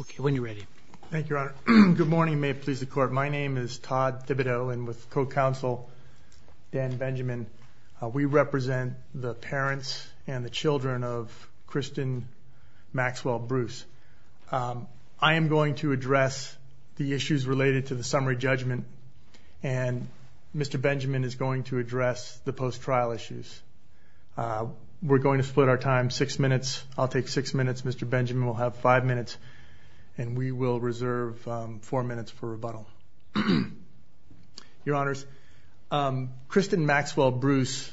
Okay, when you're ready. Thank you, Your Honor. Good morning. May it please the court. My name is Todd Thibodeau and with co-counsel Dan Benjamin, we represent the parents and the children of Kristen Maxwell Bruce. I am going to address the issues related to the summary judgment and Mr. Benjamin is going to address the post-trial issues. We're going to split our time six minutes, Mr. Benjamin will have five minutes, and we will reserve four minutes for rebuttal. Your Honors, Kristen Maxwell Bruce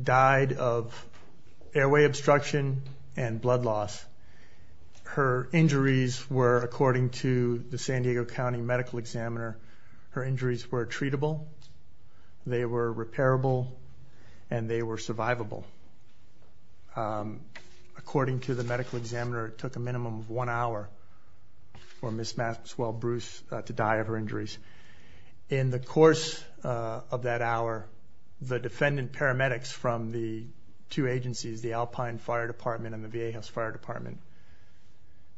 died of airway obstruction and blood loss. Her injuries were, according to the San Diego County Medical Examiner, her injuries were treatable, they were repairable, and they were survivable. According to the medical examiner, it took a minimum of one hour for Ms. Maxwell Bruce to die of her injuries. In the course of that hour, the defendant paramedics from the two agencies, the Alpine Fire Department and the VA House Fire Department,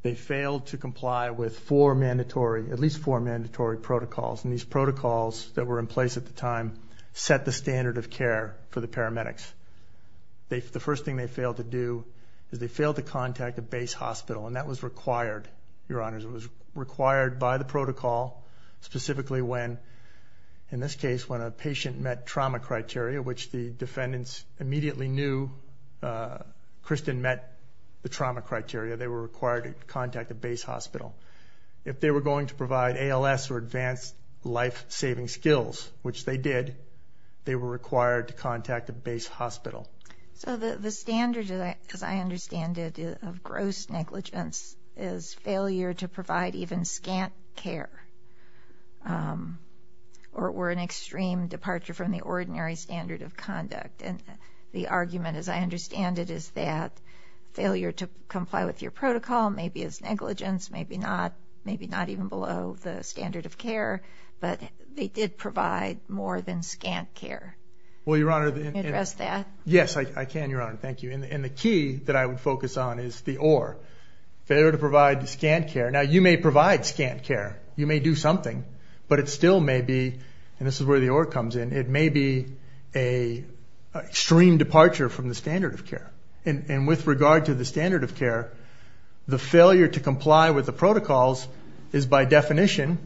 they failed to comply with four mandatory, at least four mandatory protocols, and these protocols that were in place at the time set the standard of care for the paramedics. The first thing they failed to do is they failed to contact a base hospital, and that was required. Your Honors, it was required by the protocol, specifically when, in this case, when a patient met trauma criteria, which the defendants immediately knew Kristen met the trauma criteria, they were required to contact a base hospital. If they were required to contact a base hospital. So the standard, as I understand it, of gross negligence is failure to provide even scant care or were in extreme departure from the ordinary standard of conduct. And the argument, as I understand it, is that failure to comply with your protocol maybe is negligence, maybe not, maybe not even below the standard of care, but they did provide more than scant care. Well, Your Honor. Can you address that? Yes, I can, Your Honor. Thank you. And the key that I would focus on is the or. Failure to provide scant care. Now, you may provide scant care. You may do something, but it still may be, and this is where the or comes in, it may be a extreme departure from the standard of care. And with regard to the standard of care, the failure to comply with the protocols is, by definition,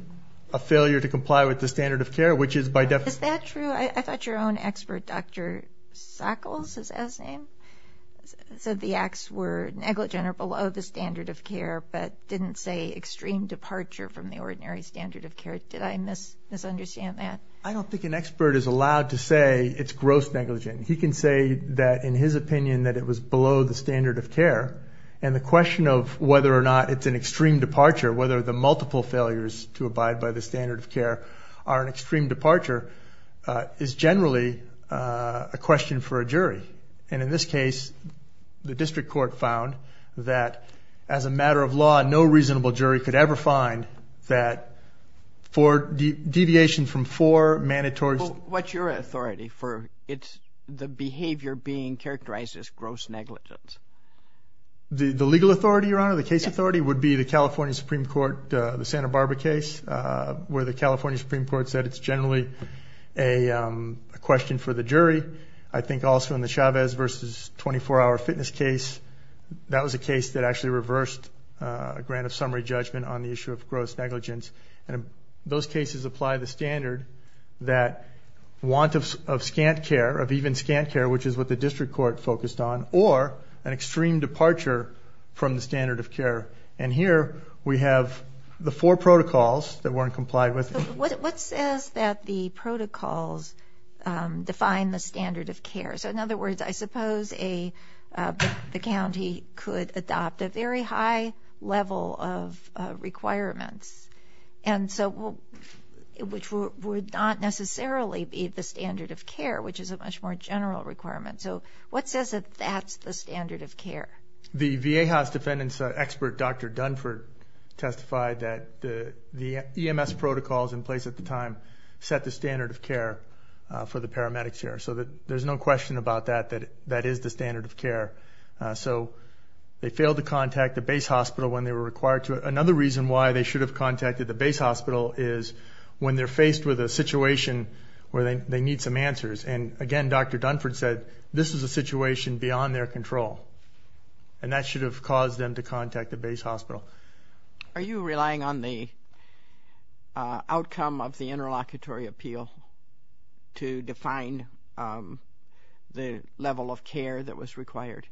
a failure to comply with the standard of care, which is by definition... Is that true? I thought your own expert, Dr. Sackles, is that his name, said the acts were negligent or below the standard of care, but didn't say extreme departure from the ordinary standard of care. Did I misunderstand that? I don't think an expert is allowed to say it's gross negligence. He can say that, in his opinion, that it was below the standard of care. And the question of whether or not it's an extreme departure, whether the multiple failures to abide by the standard of care are an extreme departure, is generally a question for a jury. And in this case, the district court found that, as a matter of law, no reasonable jury could ever find that for deviation from four mandatory... What's your authority for... It's the behavior being characterized as gross negligence. The legal authority, Your Honor, the case authority would be the California Supreme Court, the Santa Barbara case, where the California Supreme Court said it's generally a question for the jury. I think also in the Chavez versus 24 hour fitness case, that was a case that actually reversed a grant of summary judgment on the issue of gross negligence. Those cases apply the standard that want of scant care, of even scant care, which is what the district court focused on, or an extreme departure from the standard of care. And here, we have the four protocols that weren't complied with. What says that the protocols define the standard of care? So in other words, I suppose the county could adopt a very high level of requirements, which would not necessarily be the standard of care, which is a much more general requirement. So what says that that's the standard of care? The VA house defendant's expert, Dr. Dunford, testified that the EMS protocols in place at the time set the standard of care for the paramedics here. So there's no question about that, that that is the standard of care. So they failed to contact the base hospital when they were required to. Another reason why they should have contacted the base hospital is when they're faced with a situation where they need some answers. And again, Dr. Dunford said, this is a situation beyond their control. And that should have caused them to contact the base hospital. Are you relying on the outcome of the interlocutory appeal to define the level of care that was required?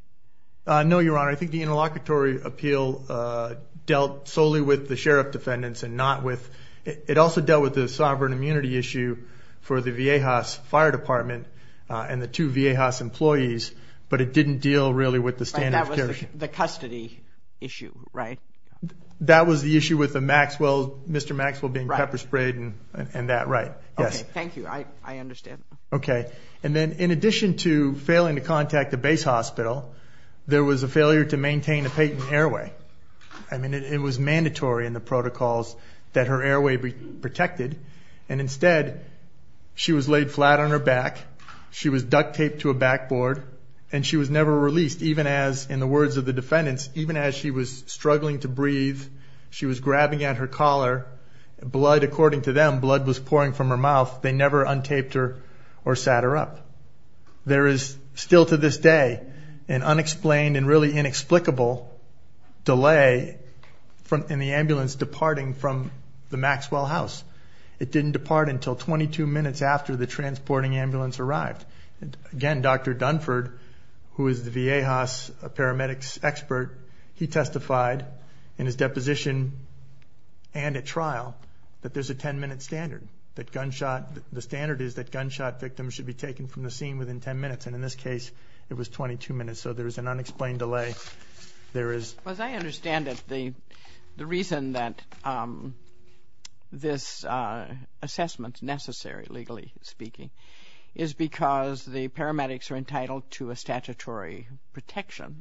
No, Your Honor. I think the interlocutory appeal dealt solely with the sheriff defendants and not with... It also dealt with the sovereign immunity issue for the VA house fire department and the two VA house employees, but it didn't deal really with the standard of care. That was the custody issue, right? That was the issue with Mr. Maxwell being pepper sprayed and that, right. Yes. Okay. Thank you. I understand. Okay. And then in addition to failing to contact the base hospital, there was a failure to maintain a patent airway. I mean, it was mandatory in the protocols that her airway protected. And instead, she was laid flat on her back, she was duct taped to a backboard, and she was never released, even as, in the words of the defendants, even as she was struggling to breathe, she was grabbing at her collar, blood, according to them, blood was pouring from her mouth, they never untaped her or sat her up. There is still to this day, an unexplained and really inexplicable delay in the ambulance departing from the Maxwell house. It didn't depart until 22 minutes after the transporting ambulance arrived. And again, Dr. Dunford, who is the VA house paramedics expert, he testified in his deposition and at trial that there's a 10 minute standard, that gunshot, the standard is that gunshot victims should be taken from the scene within 10 minutes. And in this case, it was 22 minutes. So there was an unexplained delay. As I understand it, the reason that this assessment is necessary, legally speaking, is because the paramedics are entitled to a statutory protection,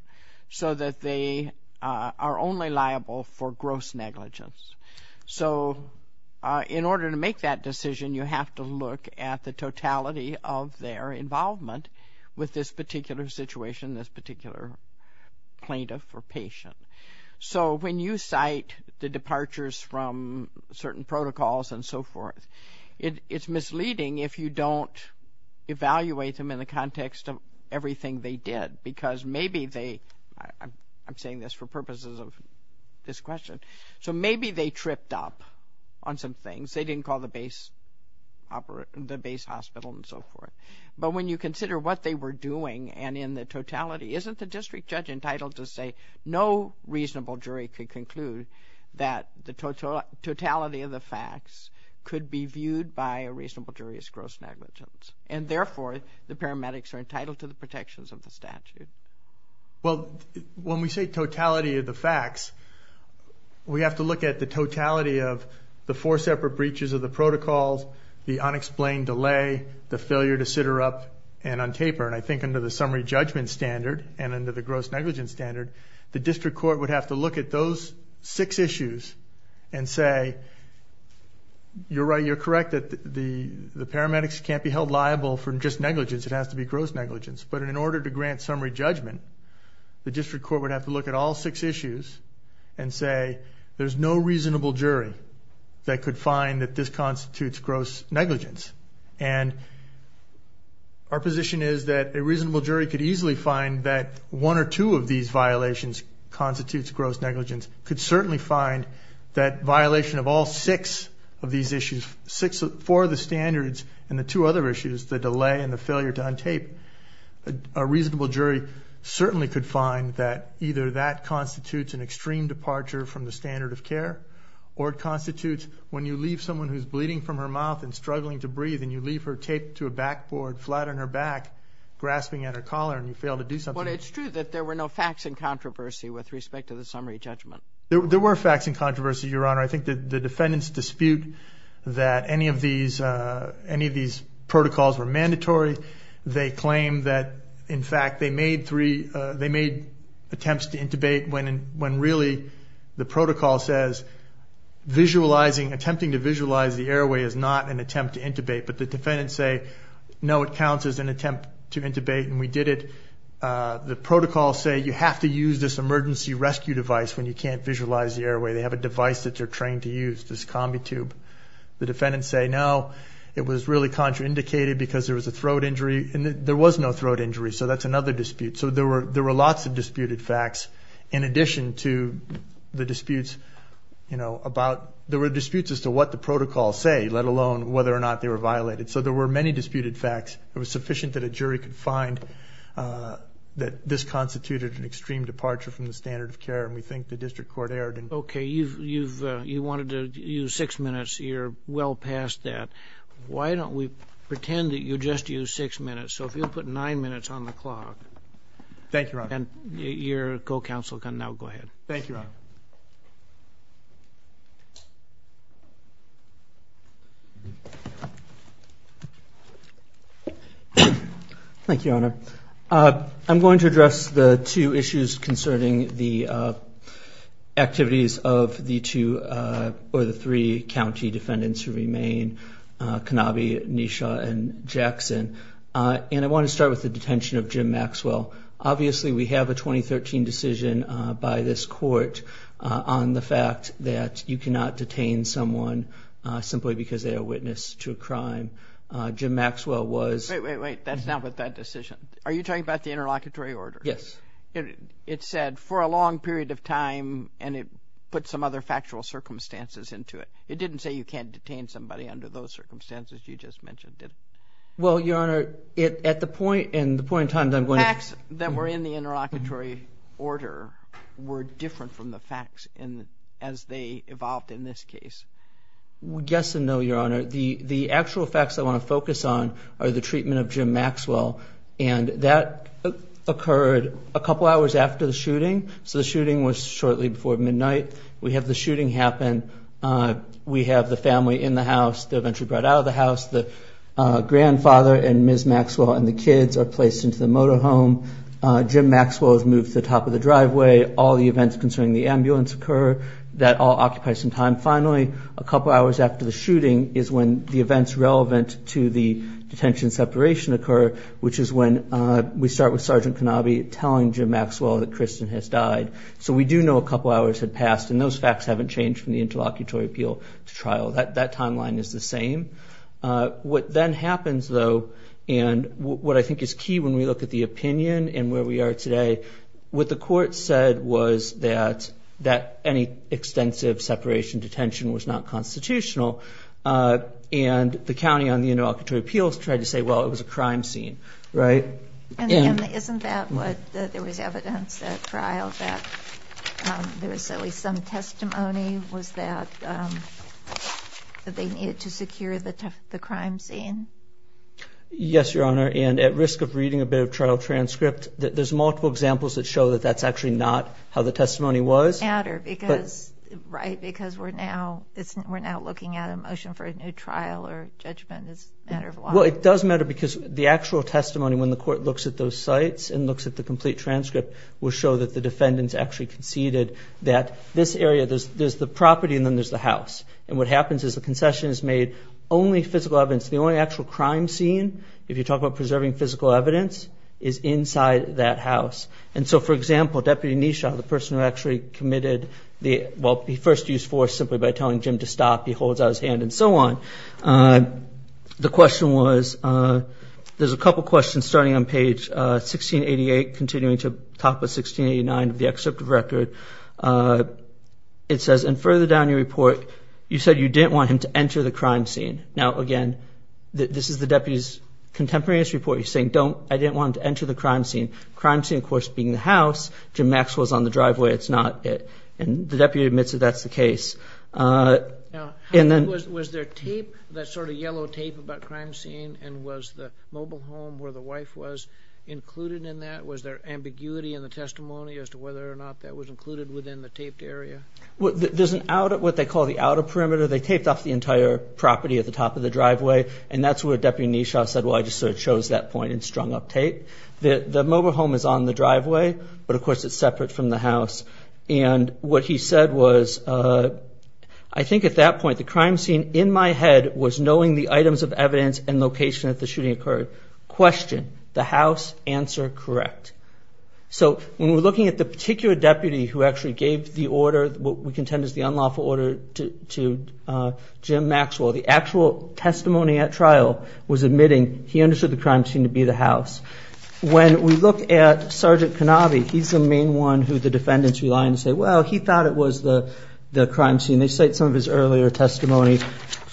so that they are only liable for gross negligence. So in order to make that decision, you have to look at the totality of their involvement with this particular situation, this particular plaintiff or so when you cite the departures from certain protocols and so forth, it's misleading if you don't evaluate them in the context of everything they did, because maybe they, I'm saying this for purposes of this question, so maybe they tripped up on some things. They didn't call the base hospital and so forth. But when you consider what they were doing and in the totality, isn't the district judge entitled to say, no reasonable jury could conclude that the totality of the facts could be viewed by a reasonable jury as gross negligence. And therefore, the paramedics are entitled to the protections of the statute. Well, when we say totality of the facts, we have to look at the totality of the four separate breaches of the protocols, the unexplained delay, the failure to sit her up and untaper. And I think under the gross negligence standard, the district court would have to look at those six issues and say, you're right, you're correct that the paramedics can't be held liable for just negligence. It has to be gross negligence. But in order to grant summary judgment, the district court would have to look at all six issues and say, there's no reasonable jury that could find that this constitutes gross negligence. And our position is that a reasonable jury could easily find that one or two of these violations constitutes gross negligence, could certainly find that violation of all six of these issues, six for the standards and the two other issues, the delay and the failure to untape. A reasonable jury certainly could find that either that constitutes an extreme departure from the standard of care, or it constitutes when you leave someone who's bleeding from her mouth and struggling to breathe and you leave her taped to a backboard flat on her back, grasping at her collar and you fail to do something. Well, it's true that there were no facts in controversy with respect to the summary judgment. There were facts in controversy, Your Honor. I think that the defendants dispute that any of these protocols were mandatory. They claim that, in fact, they made attempts to intubate when really the protocol says attempting to visualize the airway is not an attempt to intubate. But the defendants say, no, it counts as an attempt to intubate. And we did it. The protocols say you have to use this emergency rescue device when you can't visualize the airway. They have a device that they're trained to use, this combi tube. The defendants say, no, it was really contraindicated because there was a throat injury and there was no throat injury. So that's another dispute. So there were lots of disputed facts. In addition to the disputes, you know, about there were disputes as to what the protocols say, let alone whether or not they were it was sufficient that a jury could find that this constituted an extreme departure from the standard of care. And we think the district court erred. Okay, you've you've you wanted to use six minutes. You're well past that. Why don't we pretend that you just use six minutes? So if you'll put nine minutes on the clock, thank you. And your co council can now go ahead. Thank you. Thank you, Your Honor. Uh, I'm going to address the two issues concerning the activities of the two or the three county defendants who remain. Uh, Kanabi, Nisha and Jackson. Uh, and I want to start with the detention of Jim Maxwell. Obviously, we have a 2013 decision by this court on the fact that you cannot detain someone simply because they are witness to a crime. Jim Maxwell was wait. That's not what that decision. Are you talking about the interlocutory order? Yes, it said for a long period of time, and it put some other factual circumstances into it. It didn't say you can't detain somebody under those circumstances. You just mentioned it. Well, Your Honor, it at the point and the point in time that I'm going to ask that we're in the interlocutory order were different from the facts in as they evolved in this case. Yes and no. Your Honor, the actual facts I want to focus on are the treatment of Jim Maxwell, and that occurred a couple hours after the shooting. So the shooting was shortly before midnight. We have the shooting happen. Uh, we have the family in the house. They eventually brought out of the house. The grandfather and Ms Maxwell and the kids are placed into the motor home. Jim Maxwell has moved to the top of the driveway. All the couple hours after the shooting is when the events relevant to the detention separation occur, which is when we start with Sergeant Kenobi telling Jim Maxwell that Kristen has died. So we do know a couple hours had passed, and those facts haven't changed from the interlocutory appeal to trial. That timeline is the same. What then happens, though, and what I think is key when we look at the opinion and where we are today, what the court said was that any extensive separation detention was not constitutional. Uh, and the county on the interlocutory appeals tried to say, Well, it was a crime scene, right? And isn't that what there was evidence that trial that there was at least some testimony? Was that, um, that they needed to secure the crime scene? Yes, Your Honor. And at risk of reading a bit of trial transcript, there's multiple examples that show that that's actually not how the testimony was matter because right because we're now we're now looking at a motion for a new trial or judgment. It's a matter of what it does matter because the actual testimony when the court looks at those sites and looks at the complete transcript will show that the defendants actually conceded that this area there's the property and then there's the house. And what happens is the concession is made only physical evidence. The only actual crime scene. If you talk about preserving physical evidence is inside that house. And so, for example, Deputy Nisha, the person who actually committed the first use for simply by telling Jim to stop, he holds out his hand and so on. Uh, the question was, uh, there's a couple questions starting on page 16 88 continuing to talk with 16 89 of the excerpt of record. Uh, it says and further down your report, you said you didn't want him to enter the crime scene. Now again, this is the deputy's contemporaneous report. You're saying don't. I didn't want to enter the crime scene. Crime scene, of course, being the house. Jim Max was on the driveway. It's not it. And the deputy admits that that's the case. Uh, and then was there tape that sort of yellow tape about crime scene? And was the mobile home where the wife was included in that? Was there ambiguity in the testimony as to whether or not that was included within the taped area? There's an out of what they call the outer perimeter. They taped off the entire property at the top of the driveway. And that's what Deputy Nisha said. Well, I just sort of chose that point and strung up tape that the mobile home is on the driveway. But of course, it's separate from the house. And what he said was, uh, I think at that point, the crime scene in my head was knowing the items of evidence and location at the shooting occurred. Question the house answer. Correct. So when we're looking at the particular deputy who actually gave the order what we contend is the unlawful order to, uh, Jim Maxwell, the actual testimony at the house. When we look at Sergeant Kanavi, he's the main one who the defendants rely on to say, well, he thought it was the crime scene. They cite some of his earlier testimony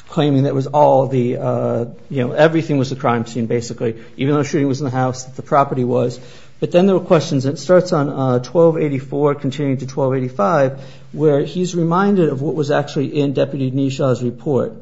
claiming that was all the, uh, you know, everything was a crime scene, basically, even though shooting was in the house, the property was. But then there were questions. It starts on 1284 continuing to 1285, where he's reminded of what was actually in Deputy Nisha's report.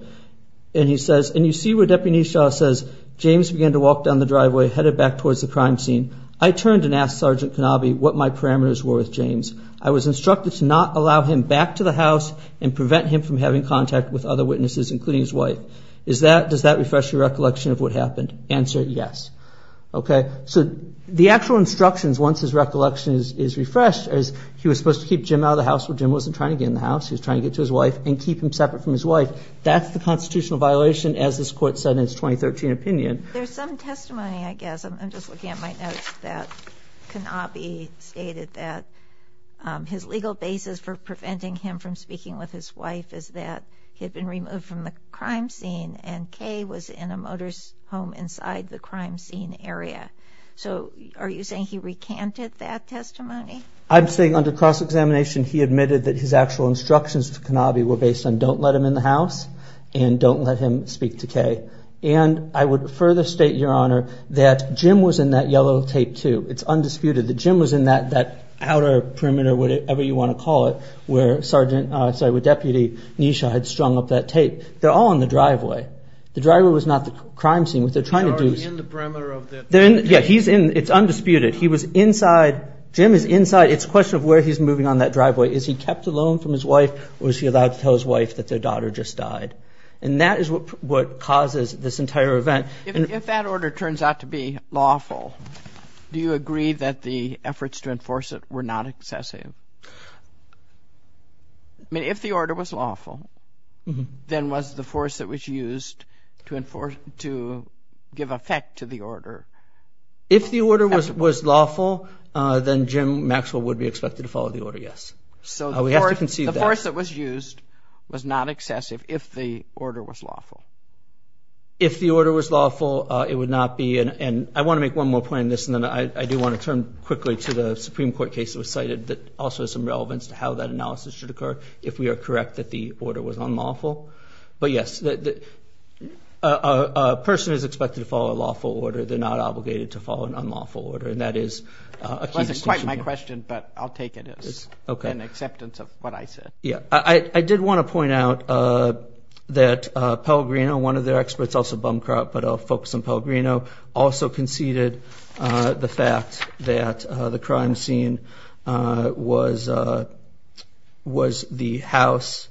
And he says, and you see where Deputy Nisha says, James began to walk down the driveway, headed back towards the crime scene. I turned and asked Sergeant Kanavi what my parameters were with James. I was instructed to not allow him back to the house and prevent him from having contact with other witnesses, including his wife. Is that, does that refresh your recollection of what happened? Answer? Yes. Okay. So the actual instructions, once his recollection is refreshed as he was supposed to keep Jim out of the house where Jim wasn't trying to get in the house, he was trying to get to his wife and keep him separate from his wife. That's the same testimony, I guess. I'm just looking at my notes that Kanavi stated that, um, his legal basis for preventing him from speaking with his wife is that he had been removed from the crime scene and Kay was in a motor's home inside the crime scene area. So are you saying he recanted that testimony? I'm saying under cross examination, he admitted that his actual instructions to Kanavi were based on don't let him in the house and don't let him speak to Kay. And I would further state, Your Honor, that Jim was in that yellow tape too. It's undisputed that Jim was in that, that outer perimeter, whatever you want to call it, where Sergeant, uh, sorry, where Deputy Nisha had strung up that tape. They're all in the driveway. The driveway was not the crime scene. What they're trying to do is... He's already in the perimeter of the tape. They're in, yeah, he's in, it's undisputed. He was inside, Jim is inside. It's a question of where he's moving on that driveway. Is he kept alone from his wife or was he allowed to tell his wife that their daughter just died? And that is what, what causes this entire event. If that order turns out to be lawful, do you agree that the efforts to enforce it were not excessive? I mean, if the order was lawful, then was the force that was used to enforce, to give effect to the order? If the order was, was lawful, then Jim Maxwell would be expected to follow the order, yes. So we have to concede that. The force that was used was not lawful. If the order was lawful, it would not be, and I want to make one more point on this, and then I do want to turn quickly to the Supreme Court case that was cited that also has some relevance to how that analysis should occur, if we are correct that the order was unlawful. But yes, a person is expected to follow a lawful order. They're not obligated to follow an unlawful order, and that is... It wasn't quite my question, but I'll take it as an acceptance of what I said. Yeah, I did want to point out that Pellegrino, one of their experts, also Bumcroft, but I'll focus on Pellegrino, also conceded the fact that the crime scene was the house,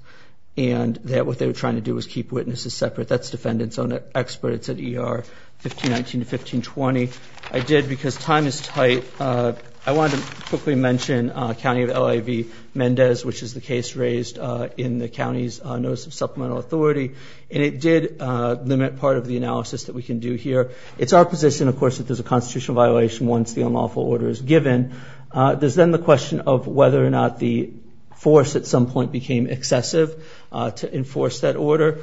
and that what they were trying to do was keep witnesses separate. That's defendants on it, experts at ER 1519 to 1520. I did, because time is tight, I wanted to quickly mention County of L.A. v. Mendez, which is the case raised in the County's Notice of Supplemental Authority, and it did limit part of the analysis that we can do here. It's our position, of course, that there's a constitutional violation once the unlawful order is given. There's then the question of whether or not the force at some point became excessive to enforce that order.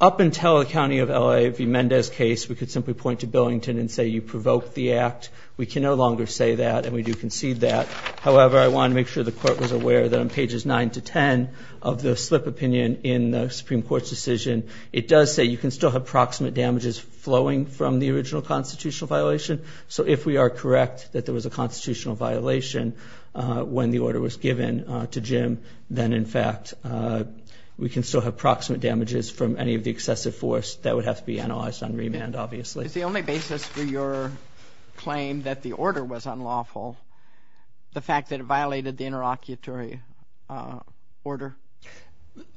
Up until the County of L.A. v. Mendez case, we could simply point to Billington and say you provoked the act. We can no longer say that, and we do concede that. However, I want to make sure the court was aware that on pages 9 to 10 of the slip opinion in the Supreme Court's decision, it does say you can still have proximate damages flowing from the original constitutional violation. So if we are correct that there was a constitutional violation when the order was given to Jim, then in fact we can still have proximate damages from any of the excessive force that would have to be analyzed on remand, obviously. Is the only basis for your claim that the order was unlawful, the fact that it violated the interlocutory order?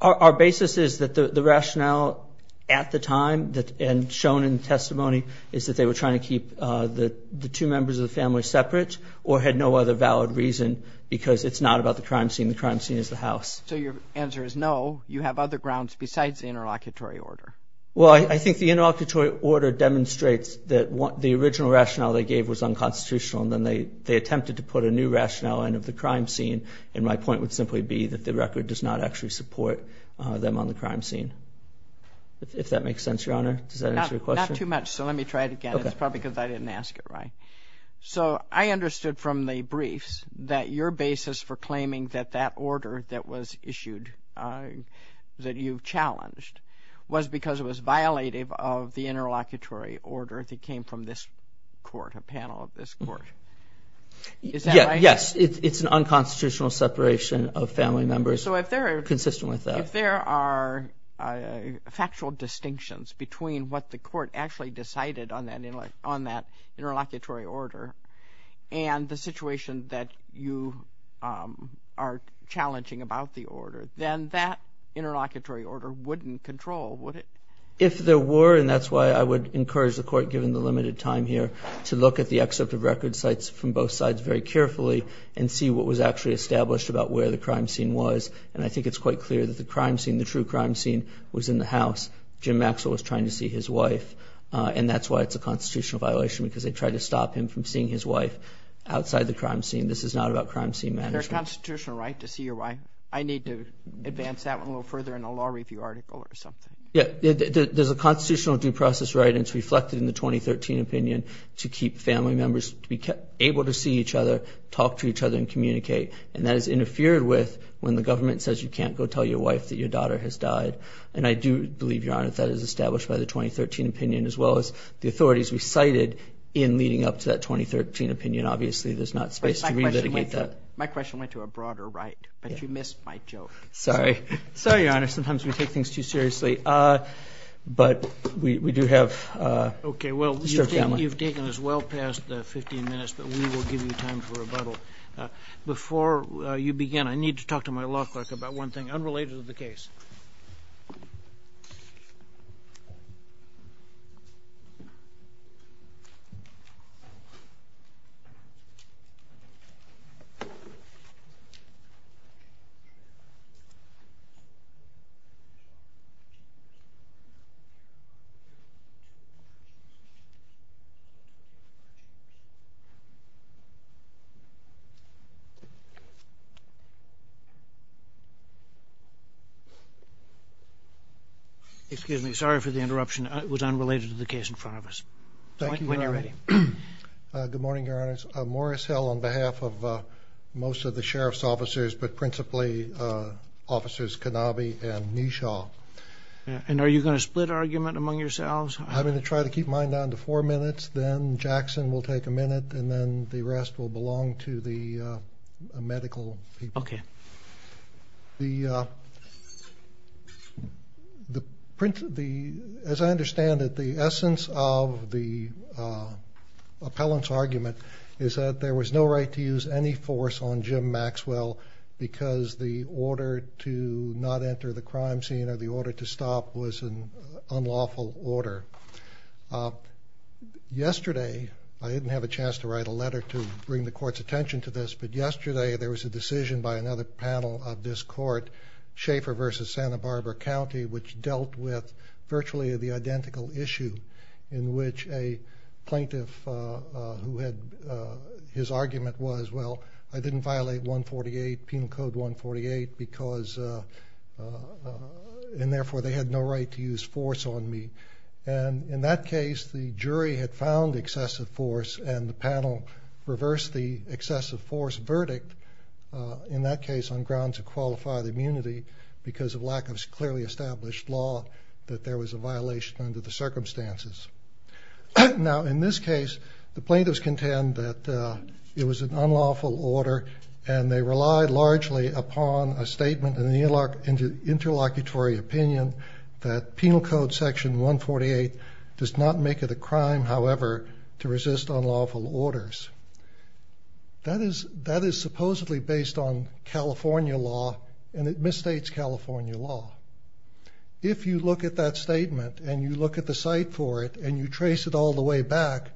Our basis is that the rationale at the time and shown in testimony is that they were trying to keep the two members of the family separate or had no other valid reason because it's not about the crime scene. The crime scene is the house. So your answer is no, you have other grounds besides the interlocutory order. Well, I think the interlocutory order demonstrates that what the original rationale they gave was unconstitutional and then they they attempted to put a new rationale in of the crime scene and my point would simply be that the record does not actually support them on the crime scene. If that makes sense, Your Honor? Not too much, so let me try it again. It's probably because I didn't ask it right. So I understood from the briefs that your basis for claiming that that order that was issued, that you challenged, was because it was violative of the interlocutory order that came from this court, a panel of this court. Yes, it's an unconstitutional separation of family members, consistent with that. So if there are factual distinctions between what the court actually decided on that interlocutory order and the situation that you are challenging about the order, then that interlocutory order wouldn't control, would it? If there were, and that's why I would encourage the court, given the limited time here, to look at the excerpt of record sites from both sides very carefully and see what was actually established about where the crime scene was. And I think it's quite clear that the crime scene, the true crime scene, was in the house. Jim Maxwell was trying to see his wife and that's why it's a constitutional violation because they tried to stop him from seeing his wife outside the crime scene. This is not about crime scene management. It's a constitutional right to see your wife. I need to advance that one a little further in a law review article or something. Yeah, there's a constitutional due process right and it's reflected in the 2013 opinion to keep family members to be able to see each other, talk to each other, and communicate. And that is interfered with when the government says you can't go tell your wife that your daughter has died. And I do believe, Your Honor, that is established by the 2013 opinion as well as the authorities we cited in leading up to that 2013 opinion. Obviously, there's not space to miss my joke. Sorry. Sorry, Your Honor. Sometimes we take things too seriously. But we do have... Okay, well, you've taken us well past 15 minutes, but we will give you time for rebuttal. Before you begin, I need to talk to my law clerk about one thing unrelated to the case. Excuse me. Sorry for the interruption. It was unrelated to the case in front of us. Thank you, Your Honor. When you're ready. Good morning, Your Honor. Morris Hill on behalf of most of the sheriff's officers, but principally Officers Kanabi and Nesha. And are you going to split argument among yourselves? I'm going to try to keep mine down to four minutes, then Jackson will take a minute, and then the rest will belong to the medical people. Okay. As I said, there's no right to use any force on Jim Maxwell because the order to not enter the crime scene or the order to stop was an unlawful order. Yesterday, I didn't have a chance to write a letter to bring the court's attention to this, but yesterday there was a decision by another panel of this court, Schaefer versus Santa Barbara County, which dealt with virtually the identical issue in which a plaintiff, who had, his argument was, well, I didn't violate 148, Penal Code 148, because, and therefore they had no right to use force on me. And in that case, the jury had found excessive force and the panel reversed the excessive force verdict, in that case on grounds of qualified immunity, because of lack of Now, in this case, the plaintiffs contend that it was an unlawful order and they relied largely upon a statement in the interlocutory opinion that Penal Code Section 148 does not make it a crime, however, to resist unlawful orders. That is supposedly based on California law and it misstates California law. If you look at that statement and you look at the site for it and you trace it all the way back,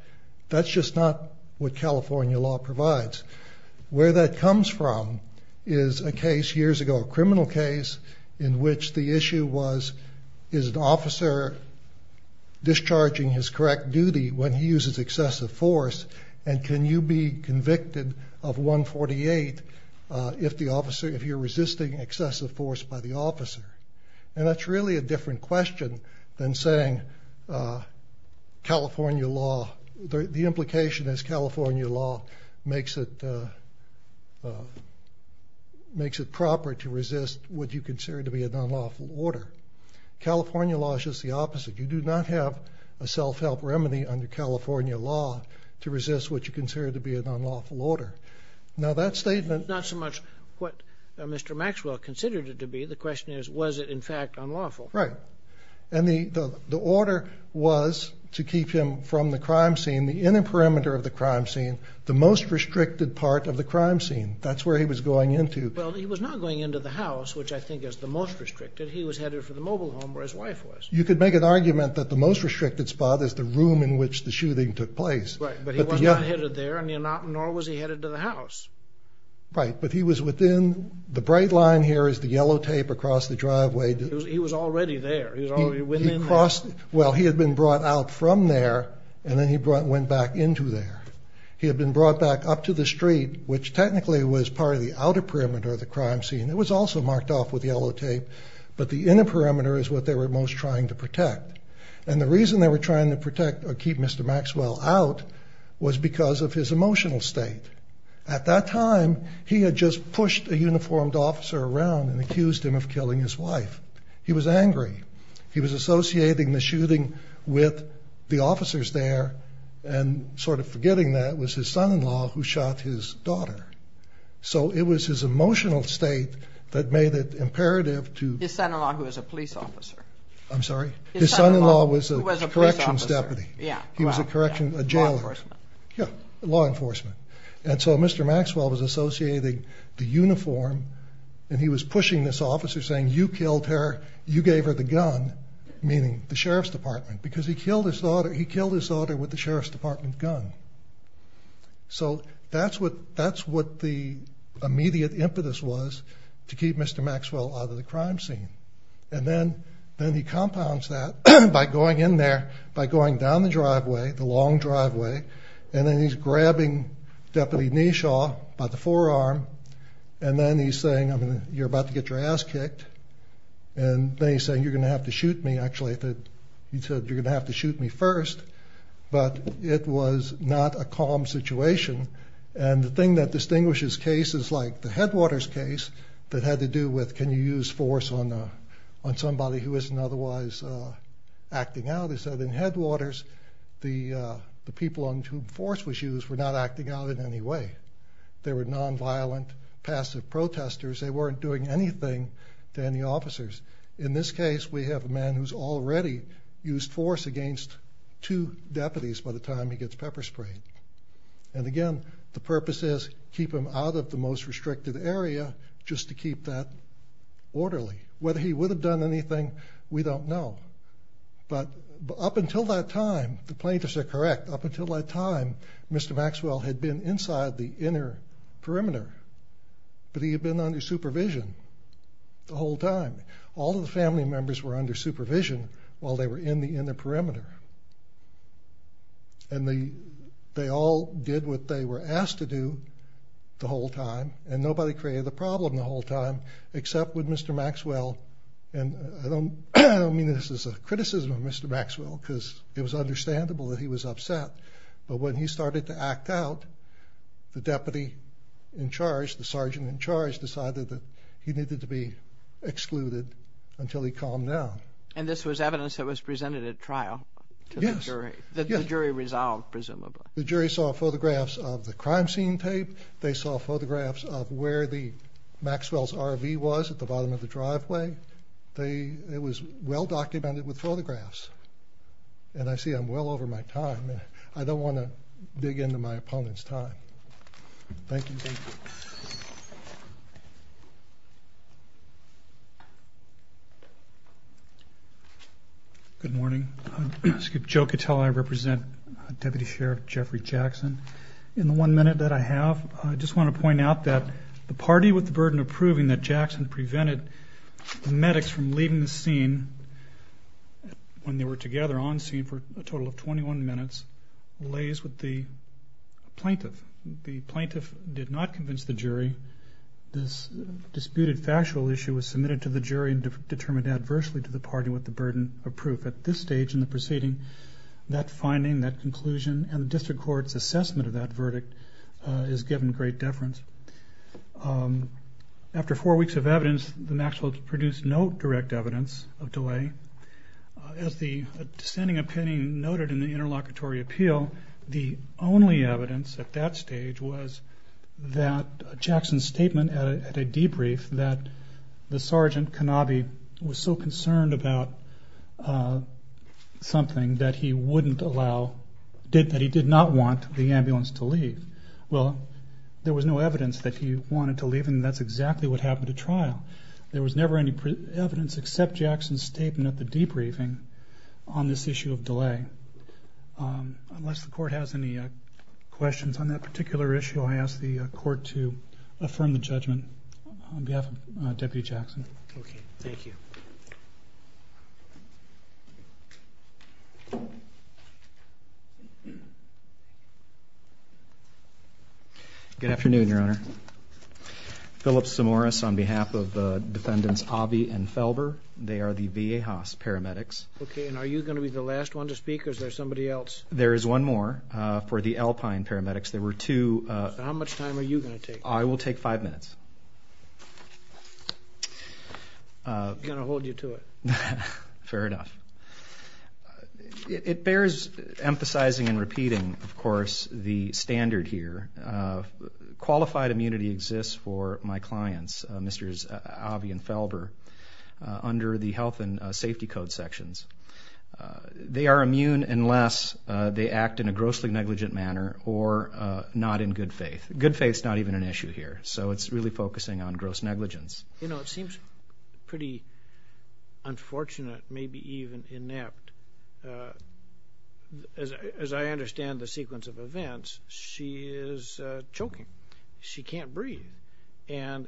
that's just not what California law provides. Where that comes from is a case years ago, a criminal case, in which the issue was, is an officer discharging his correct duty when he uses excessive force and can you be convicted of 148 if the officer, if you're resisting excessive force by the officer? And that's really a different question than saying California law, the implication is California law makes it proper to resist what you consider to be an unlawful order. California law is just the opposite. You do not have a self-help remedy under California law to resist what you consider to be an unlawful order. Now that statement... Not so much what Mr. Maxwell considered it to be, the question is, was it in fact unlawful? Right. And the order was to keep him from the crime scene, the inner perimeter of the crime scene, the most restricted part of the crime scene. That's where he was going into. Well he was not going into the house, which I think is the most restricted, he was headed for the mobile home where his wife was. You could make an argument that the most restricted spot is the room in which the shooting took place. Right, but he was not headed there, nor was he headed to the house. Right, but he was within, the bright line here is the yellow tape across the He was already there, he was already within there. Well he had been brought out from there and then he went back into there. He had been brought back up to the street, which technically was part of the outer perimeter of the crime scene. It was also marked off with yellow tape, but the inner perimeter is what they were most trying to protect. And the reason they were trying to protect or keep Mr. Maxwell out was because of his emotional state. At that time he had just pushed a He was angry. He was associating the shooting with the officers there, and sort of forgetting that it was his son-in-law who shot his daughter. So it was his emotional state that made it imperative to... His son-in-law who was a police officer. I'm sorry? His son-in-law who was a police officer. His son-in-law was a corrections deputy. He was a corrections, a jailer. Law enforcement. Yeah, law enforcement. And so Mr. Maxwell was associating the uniform and he was you gave her the gun, meaning the sheriff's department, because he killed his daughter. He killed his daughter with the sheriff's department gun. So that's what the immediate impetus was to keep Mr. Maxwell out of the crime scene. And then he compounds that by going in there, by going down the driveway, the long driveway, and then he's grabbing Deputy Neshaw by the forearm. And then he's saying, you're about to get your ass kicked. And then he's saying, you're going to have to shoot me, actually. He said, you're going to have to shoot me first. But it was not a calm situation. And the thing that distinguishes cases like the Headwaters case that had to do with can you use force on somebody who isn't otherwise acting out, is that in Headwaters, the people on whom force was used were not acting out in any way. They were nonviolent, passive protesters. They weren't doing anything to any officers. In this case, we have a man who's already used force against two deputies by the time he gets pepper sprayed. And again, the purpose is to keep him out of the most restricted area, just to keep that orderly. Whether he would have done anything, we don't know. But up until that time, the plaintiffs are correct, up until that time, Mr. Maxwell had been inside the inner perimeter. But he had been under supervision the whole time. All of the family members were under supervision while they were in the inner perimeter. And they all did what they were asked to do the whole time, and nobody created a problem the whole time, except with Mr. Maxwell. And I don't mean this as a criticism of Mr. Maxwell, because it was understandable that he was upset. But when he started to act out, the deputy in charge, the sergeant in charge, decided that he needed to be excluded until he calmed down. And this was evidence that was presented at trial to the jury? Yes. The jury resolved, presumably. The jury saw photographs of the crime scene tape. They saw photographs of where Maxwell's RV was at the bottom of the driveway. It was well documented with photographs. And I see I'm well over my time. I don't want to dig into my opponent's time. Thank you. Good morning. Joe Catella, I represent Deputy Sheriff Jeffrey Jackson. In the one minute that I have, I just want to point out that the party with the burden of proving that Jackson prevented the medics from leaving the scene when they were together on scene for a total of 21 minutes, lays with the plaintiff. The plaintiff did not convince the jury. This disputed factual issue was submitted to the jury and determined adversely to the party with the burden of proof. At this stage in the proceeding, that finding, that conclusion, and the district court's assessment of that verdict is given great deference. After four weeks of evidence, the Maxwell's produced no direct evidence of delay. As the standing opinion noted in the interlocutory appeal, the only evidence at that stage was that Jackson's statement at a debrief that the sergeant, Canabi, was so concerned about something that he wouldn't allow, that he did not want the ambulance to leave. Well, there was no evidence that he wanted to leave and that's exactly what happened at trial. There was never any evidence except Jackson's statement at the debriefing on this issue of delay. Unless the court has any questions on that particular issue, I ask the court to affirm the judgment on behalf of Deputy Jackson. Okay, thank you. Good afternoon, Your Honor. Phillip Samoris on behalf of the defendants, Obbie and Felber. They are the VA Haas paramedics. Okay, and are you going to be the last one to speak or is there somebody else? There is one more for the Alpine paramedics. There were two. How much time are you going to take? I will take five minutes. I'm going to hold you to it. Fair enough. It bears emphasizing and repeating, of course, the standard here. Qualified immunity exists for my clients, Mr. Obbie and Felber, under the health and safety code sections. They are immune unless they act in a grossly negligent manner or not in good faith. Good faith is not even an issue here, so it's really focusing on gross negligence. You know, it seems pretty unfortunate, maybe even inept. As I understand the sequence of events, she is choking. She can't breathe. And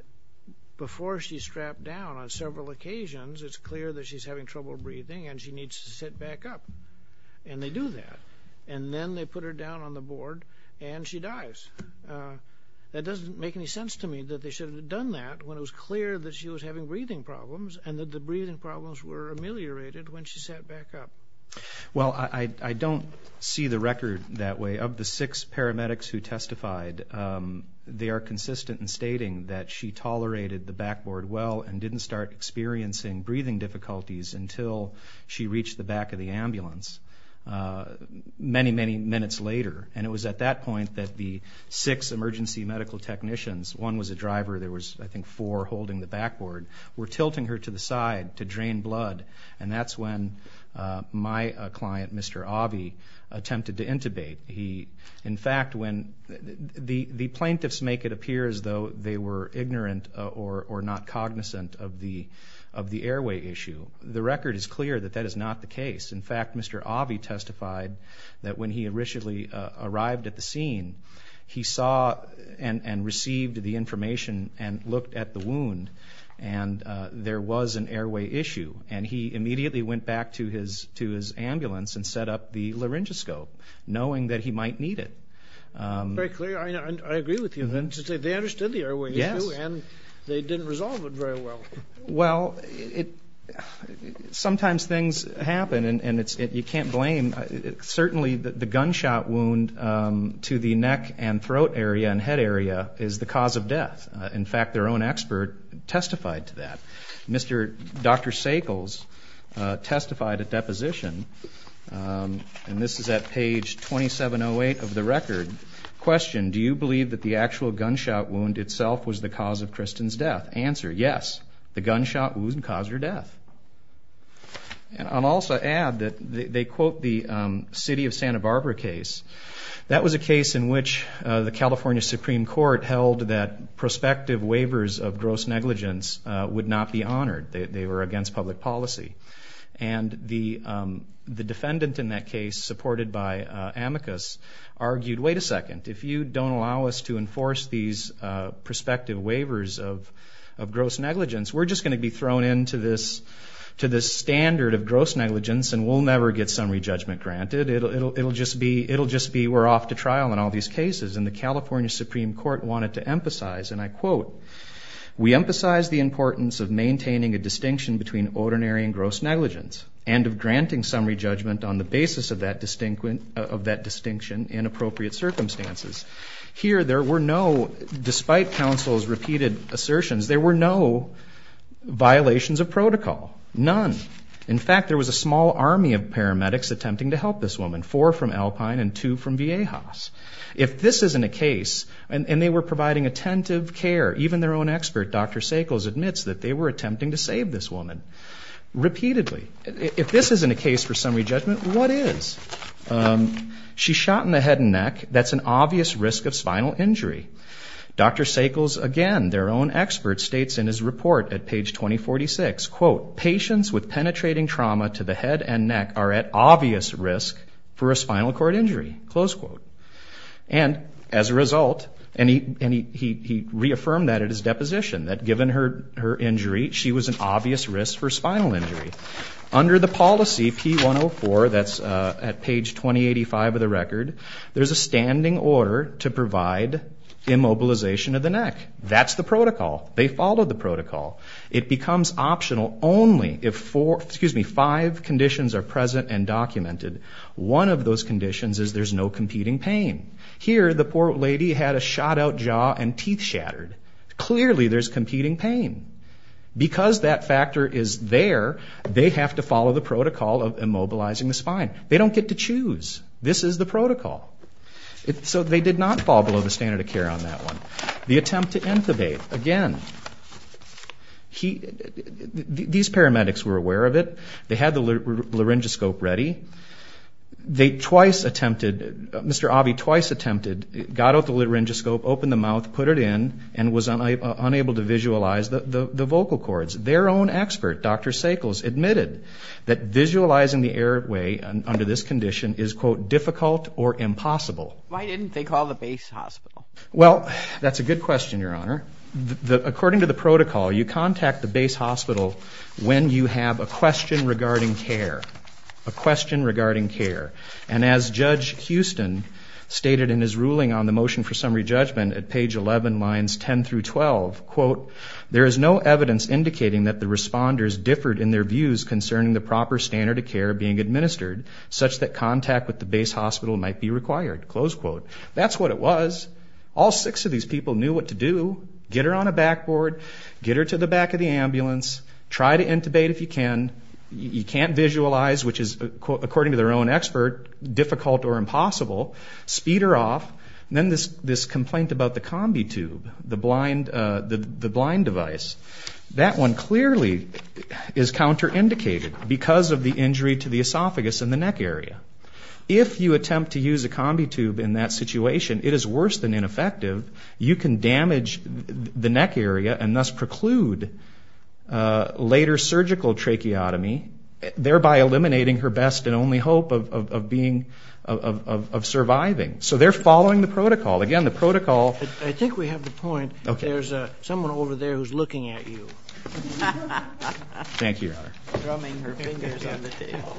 before she's strapped down on several occasions, it's clear that she's having trouble breathing and she needs to sit back up. And they do that. And then they put her down on the board and she dies. That doesn't make any sense to me that they should have done that when it was clear that she was having breathing problems and that the breathing problems were ameliorated when she sat back up. Well, I don't see the record that way. Of the six paramedics who testified, they are consistent in stating that she tolerated the backboard well and didn't start experiencing breathing difficulties until she reached the back of the ambulance many, many minutes later. And it was at that point that the six emergency medical technicians, one was a driver, there was, I think, four holding the backboard, were tilting her to the side to drain blood, and that's when my client, Mr. Avi, attempted to intubate. In fact, when the plaintiffs make it appear as though they were ignorant or not cognizant of the airway issue, the record is clear that that is not the case. In fact, Mr. Avi testified that when he originally arrived at the scene, he saw and received the information and looked at the wound, and there was an airway issue. And he immediately went back to his ambulance and set up the laryngoscope, knowing that he might need it. Very clear. I agree with you. They understood the airway issue and they didn't resolve it very well. Well, sometimes things happen, and you can't blame. Certainly the gunshot wound to the neck and throat area and head area is the cause of death. In fact, their own expert testified to that. Dr. Sakles testified at deposition, and this is at page 2708 of the record, questioned, do you believe that the actual gunshot wound itself was the cause of Kristen's death? Answer, yes. The gunshot wound caused her death. And I'll also add that they quote the city of Santa Barbara case. That was a case in which the California Supreme Court held that prospective waivers of gross negligence would not be honored. They were against public policy. And the defendant in that case, supported by Amicus, argued, wait a second, if you don't allow us to enforce these prospective waivers of gross negligence, we're just going to be thrown into this standard of gross negligence and we'll never get summary judgment granted. It'll just be we're off to trial in all these cases. And the California Supreme Court wanted to emphasize, and I quote, we emphasize the importance of maintaining a distinction between ordinary and gross negligence and of granting summary judgment on the basis of that distinction in appropriate circumstances. Here, there were no, despite counsel's repeated assertions, there were no violations of protocol. None. In fact, there was a small army of paramedics attempting to help this woman, four from Alpine and two from Viejas. If this isn't a case, and they were providing attentive care, even their own expert, Dr. Sakles, admits that they were attempting to save this woman. Repeatedly. If this isn't a case for summary judgment, what is? She shot in the head and neck. That's an obvious risk of spinal injury. Dr. Sakles, again, their own expert, states in his report at page 2046, quote, patients with penetrating trauma to the head and neck are at obvious risk for a spinal cord injury. Close quote. And as a result, and he reaffirmed that at his deposition, that given her injury, she was an obvious risk for spinal injury. Under the policy, P104, that's at page 2085 of the record, there's a standing order to provide immobilization of the neck. That's the protocol. They follow the protocol. It becomes optional only if five conditions are present and documented. One of those conditions is there's no competing pain. Here, the poor lady had a shot-out jaw and teeth shattered. Clearly, there's competing pain. Because that factor is there, they have to follow the protocol of immobilizing the spine. They don't get to choose. This is the protocol. So they did not fall below the standard of care on that one. The attempt to intubate, again, these paramedics were aware of it. They had the laryngoscope ready. They twice attempted, Mr. Avi twice attempted, got out the laryngoscope, opened the mouth, put it in, and was unable to visualize the vocal cords. Their own expert, Dr. Sakles, admitted that visualizing the airway under this condition is, quote, difficult or impossible. Why didn't they call the base hospital? Well, that's a good question, Your Honor. According to the protocol, you contact the base hospital when you have a question regarding care. A question regarding care. And as Judge Houston stated in his ruling on the motion for summary judgment at page 11, lines 10 through 12, quote, there is no evidence indicating that the responders differed in their views concerning the proper standard of care being administered, such that contact with the base hospital might be required, close quote. That's what it was. All six of these people knew what to do. Get her on a backboard. Get her to the back of the ambulance. Try to intubate if you can. You can't visualize, which is, according to their own expert, difficult or impossible. Speed her off. And then this complaint about the combi tube, the blind device, that one clearly is counterindicated because of the injury to the esophagus and the neck area. If you attempt to use a combi tube in that situation, it is worse than ineffective. You can damage the neck area and thus preclude later surgical tracheotomy, thereby eliminating her best and only hope of being, of surviving. So they're following the protocol. Again, the protocol. I think we have the point. There's someone over there who's looking at you. Thank you, Your Honor. Drumming her fingers on the table.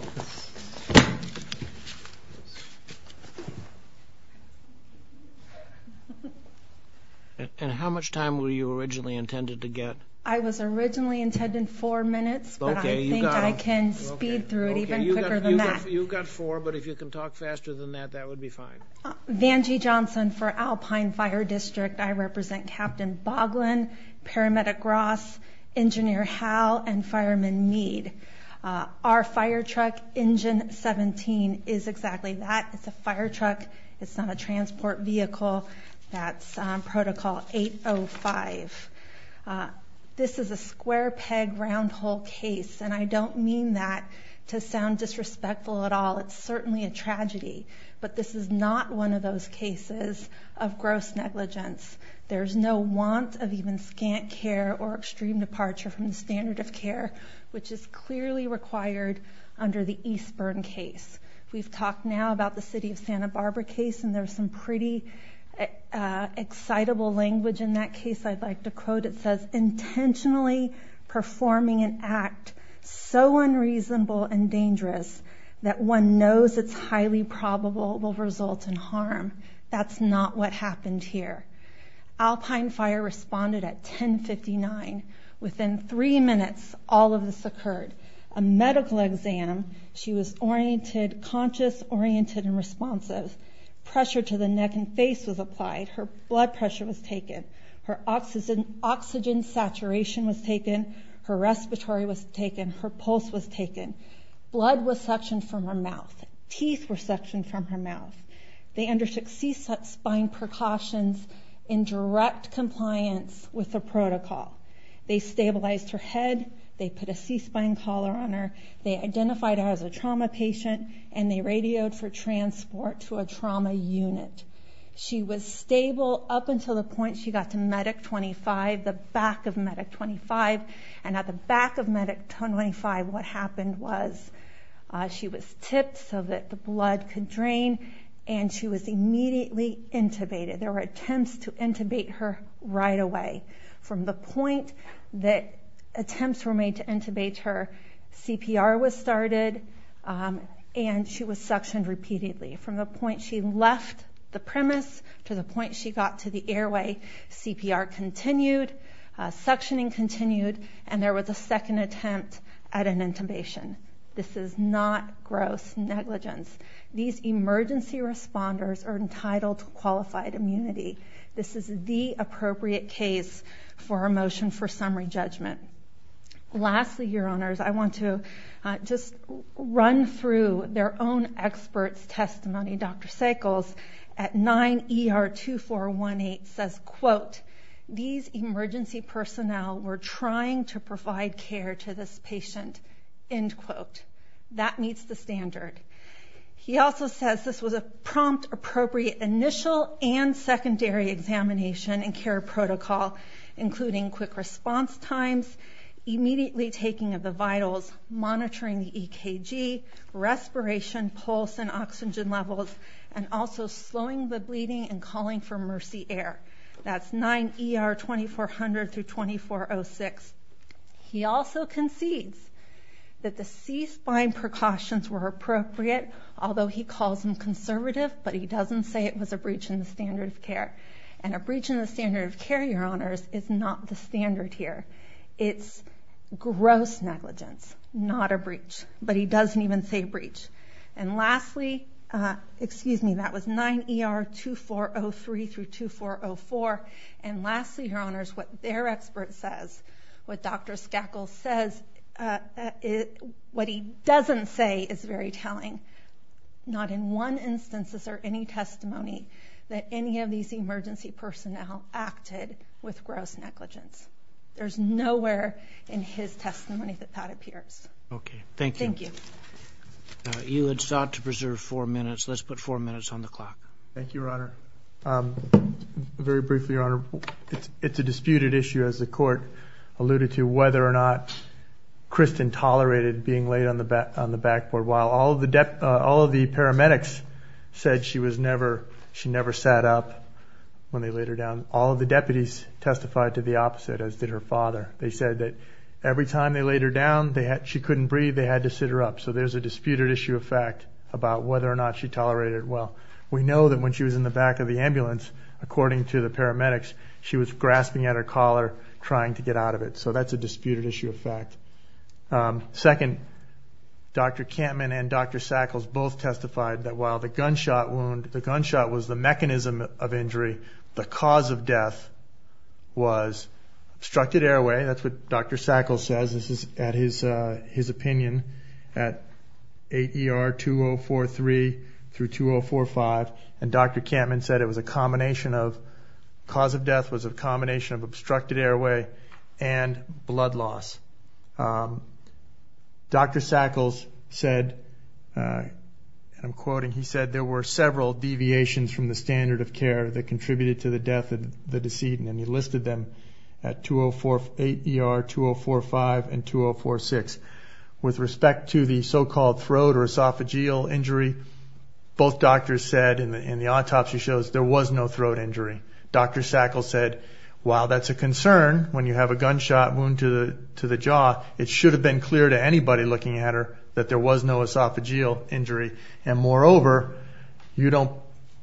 And how much time were you originally intended to get? I was originally intended four minutes, but I think I can speed through it even quicker than that. You've got four, but if you can talk faster than that, that would be fine. Vanjie Johnson for Alpine Fire District. I represent Captain Boglin, Paramedic Ross, Engineer Howell, and Fireman Meade. Our fire truck, Engine 17, is exactly that. It's a fire truck. It's not a transport vehicle. That's Protocol 805. This is a square peg round hole case, and I don't mean that to sound disrespectful at all. It's certainly a tragedy. But this is not one of those cases of gross negligence. There's no want of even scant care or extreme departure from the standard of care, which is clearly required under the Eastburn case. We've talked now about the City of Santa Barbara case, and there's some pretty excitable language in that case I'd like to quote. It says, Intentionally performing an act so unreasonable and dangerous that one knows it's highly probable it will result in harm. That's not what happened here. Alpine Fire responded at 1059. Within three minutes, all of this occurred. A medical exam. She was oriented, conscious, oriented, and responsive. Pressure to the neck and face was applied. Her blood pressure was taken. Her oxygen saturation was taken. Her respiratory was taken. Her pulse was taken. Blood was suctioned from her mouth. Teeth were suctioned from her mouth. They undertook C-spine precautions in direct compliance with the protocol. They stabilized her head. They put a C-spine collar on her. They identified her as a trauma patient, and they radioed for transport to a trauma unit. She was stable up until the point she got to Medic 25, the back of Medic 25. And at the back of Medic 25, what happened was she was tipped so that the blood could drain, and she was immediately intubated. There were attempts to intubate her right away. From the point that attempts were made to intubate her, CPR was started, and she was suctioned repeatedly. From the point she left the premise to the point she got to the airway, CPR continued, suctioning continued, and there was a second attempt at an intubation. This is not gross negligence. These emergency responders are entitled to qualified immunity. This is the appropriate case for a motion for summary judgment. Lastly, Your Honors, I want to just run through their own experts' testimony. Dr. Sickles, at 9 ER 2418, says, quote, these emergency personnel were trying to provide care to this patient, end quote. That meets the standard. He also says this was a prompt, appropriate initial and secondary examination and care protocol, including quick response times, immediately taking of the vitals, monitoring the EKG, respiration, pulse, and oxygen levels, and also slowing the bleeding and calling for mercy air. That's 9 ER 2400 through 2406. He also concedes that the C-spine precautions were appropriate, although he calls them conservative, but he doesn't say it was a breach in the standard of care. And a breach in the standard of care, Your Honors, is not the standard here. It's gross negligence, not a breach. But he doesn't even say breach. And lastly, excuse me, that was 9 ER 2403 through 2404. And lastly, Your Honors, what their expert says, what Dr. Skakel says, what he doesn't say is very telling. Not in one instance is there any testimony that any of these emergency personnel acted with gross negligence. There's nowhere in his testimony that that appears. Okay. Thank you. Thank you. You had sought to preserve four minutes. Let's put four minutes on the clock. Thank you, Your Honor. Very briefly, Your Honor, it's a disputed issue, as the Court alluded to, whether or not Kristen tolerated being laid on the backboard while all of the paramedics said she never sat up when they laid her down. All of the deputies testified to the opposite, as did her father. They said that every time they laid her down, she couldn't breathe, they had to sit her up. So there's a disputed issue of fact about whether or not she tolerated it well. We know that when she was in the back of the ambulance, according to the paramedics, she was grasping at her collar, trying to get out of it. So that's a disputed issue of fact. Second, Dr. Kampmann and Dr. Sackles both testified that while the gunshot wound, the gunshot was the mechanism of injury, the cause of death was obstructed airway. That's what Dr. Sackles says. This is his opinion at 8 ER 2043 through 2045. And Dr. Kampmann said it was a combination of, the cause of death was a combination of obstructed airway and blood loss. Dr. Sackles said, and I'm quoting, he said, there were several deviations from the standard of care that contributed to the death of the decedent, and he listed them at 8 ER 2045 and 2046. With respect to the so-called throat or esophageal injury, both doctors said in the autopsy shows there was no throat injury. Dr. Sackles said, while that's a concern when you have a gunshot wound to the jaw, it should have been clear to anybody looking at her that there was no esophageal injury. And moreover, you don't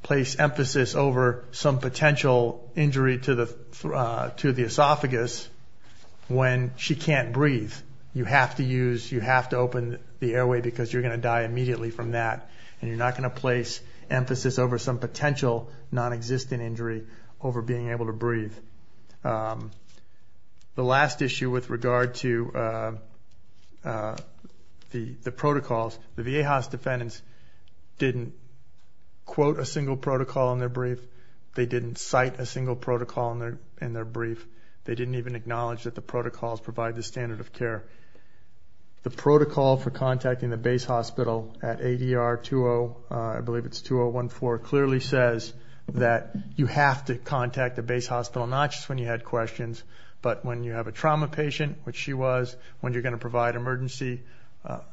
place emphasis over some potential injury to the esophagus when she can't breathe. You have to use, you have to open the airway because you're going to die immediately from that, and you're not going to place emphasis over some potential non-existent injury over being able to breathe. The last issue with regard to the protocols, the Viejas defendants didn't quote a single protocol in their brief. They didn't cite a single protocol in their brief. They didn't even acknowledge that the protocols provide the standard of care. The protocol for contacting the base hospital at 8 ER 20, I believe it's 2014, clearly says that you have to contact the base hospital, not just when you had questions, but when you have a trauma patient, which she was, when you're going to provide emergency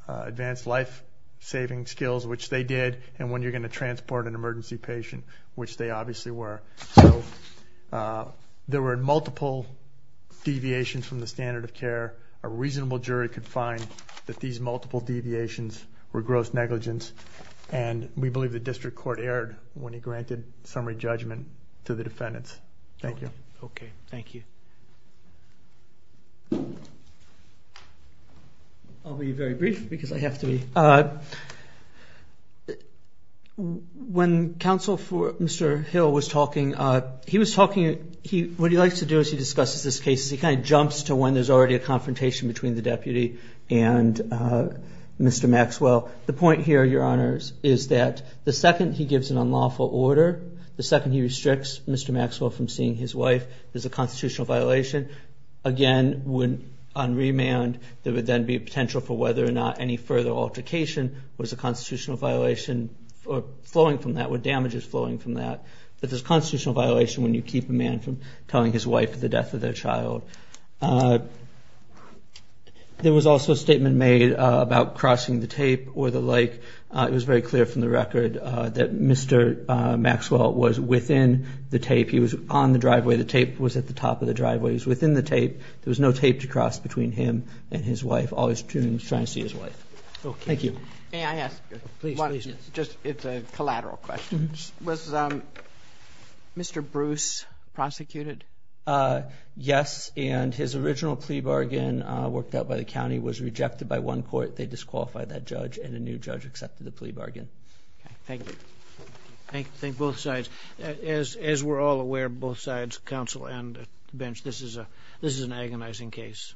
advanced life-saving skills, which they did, and when you're going to transport an emergency patient, which they obviously were. So there were multiple deviations from the standard of care. A reasonable jury could find that these multiple deviations were gross negligence, and we believe the district court erred when it granted summary judgment to the defendants. Thank you. Okay, thank you. I'll be very brief because I have to be. When counsel for Mr. Hill was talking, he was talking, what he likes to do is he discusses this case. He kind of jumps to when there's already a confrontation between the deputy and Mr. Maxwell. The point here, Your Honors, is that the second he gives an unlawful order, the second he restricts Mr. Maxwell from seeing his wife, there's a constitutional violation. Again, on remand, there would then be a potential for whether or not any further altercation was a constitutional violation or damages flowing from that. There's a constitutional violation when you keep a man from telling his wife of the death of their child. There was also a statement made about crossing the tape or the like. It was very clear from the record that Mr. Maxwell was within the tape. He was on the driveway. The tape was at the top of the driveway. He was within the tape. There was no tape to cross between him and his wife. All he was doing was trying to see his wife. Thank you. May I ask one? Please, please. It's a collateral question. Was Mr. Bruce prosecuted? Yes, and his original plea bargain worked out by the county was rejected by one court. They disqualified that judge, and a new judge accepted the plea bargain. Thank you. Thank you. Thank both sides. As we're all aware, both sides, counsel and the bench, this is an agonizing case,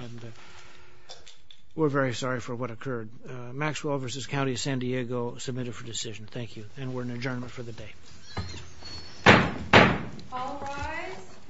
and we're very sorry for what occurred. Maxwell v. County of San Diego submitted for decision. Thank you, and we're in adjournment for the day. All rise.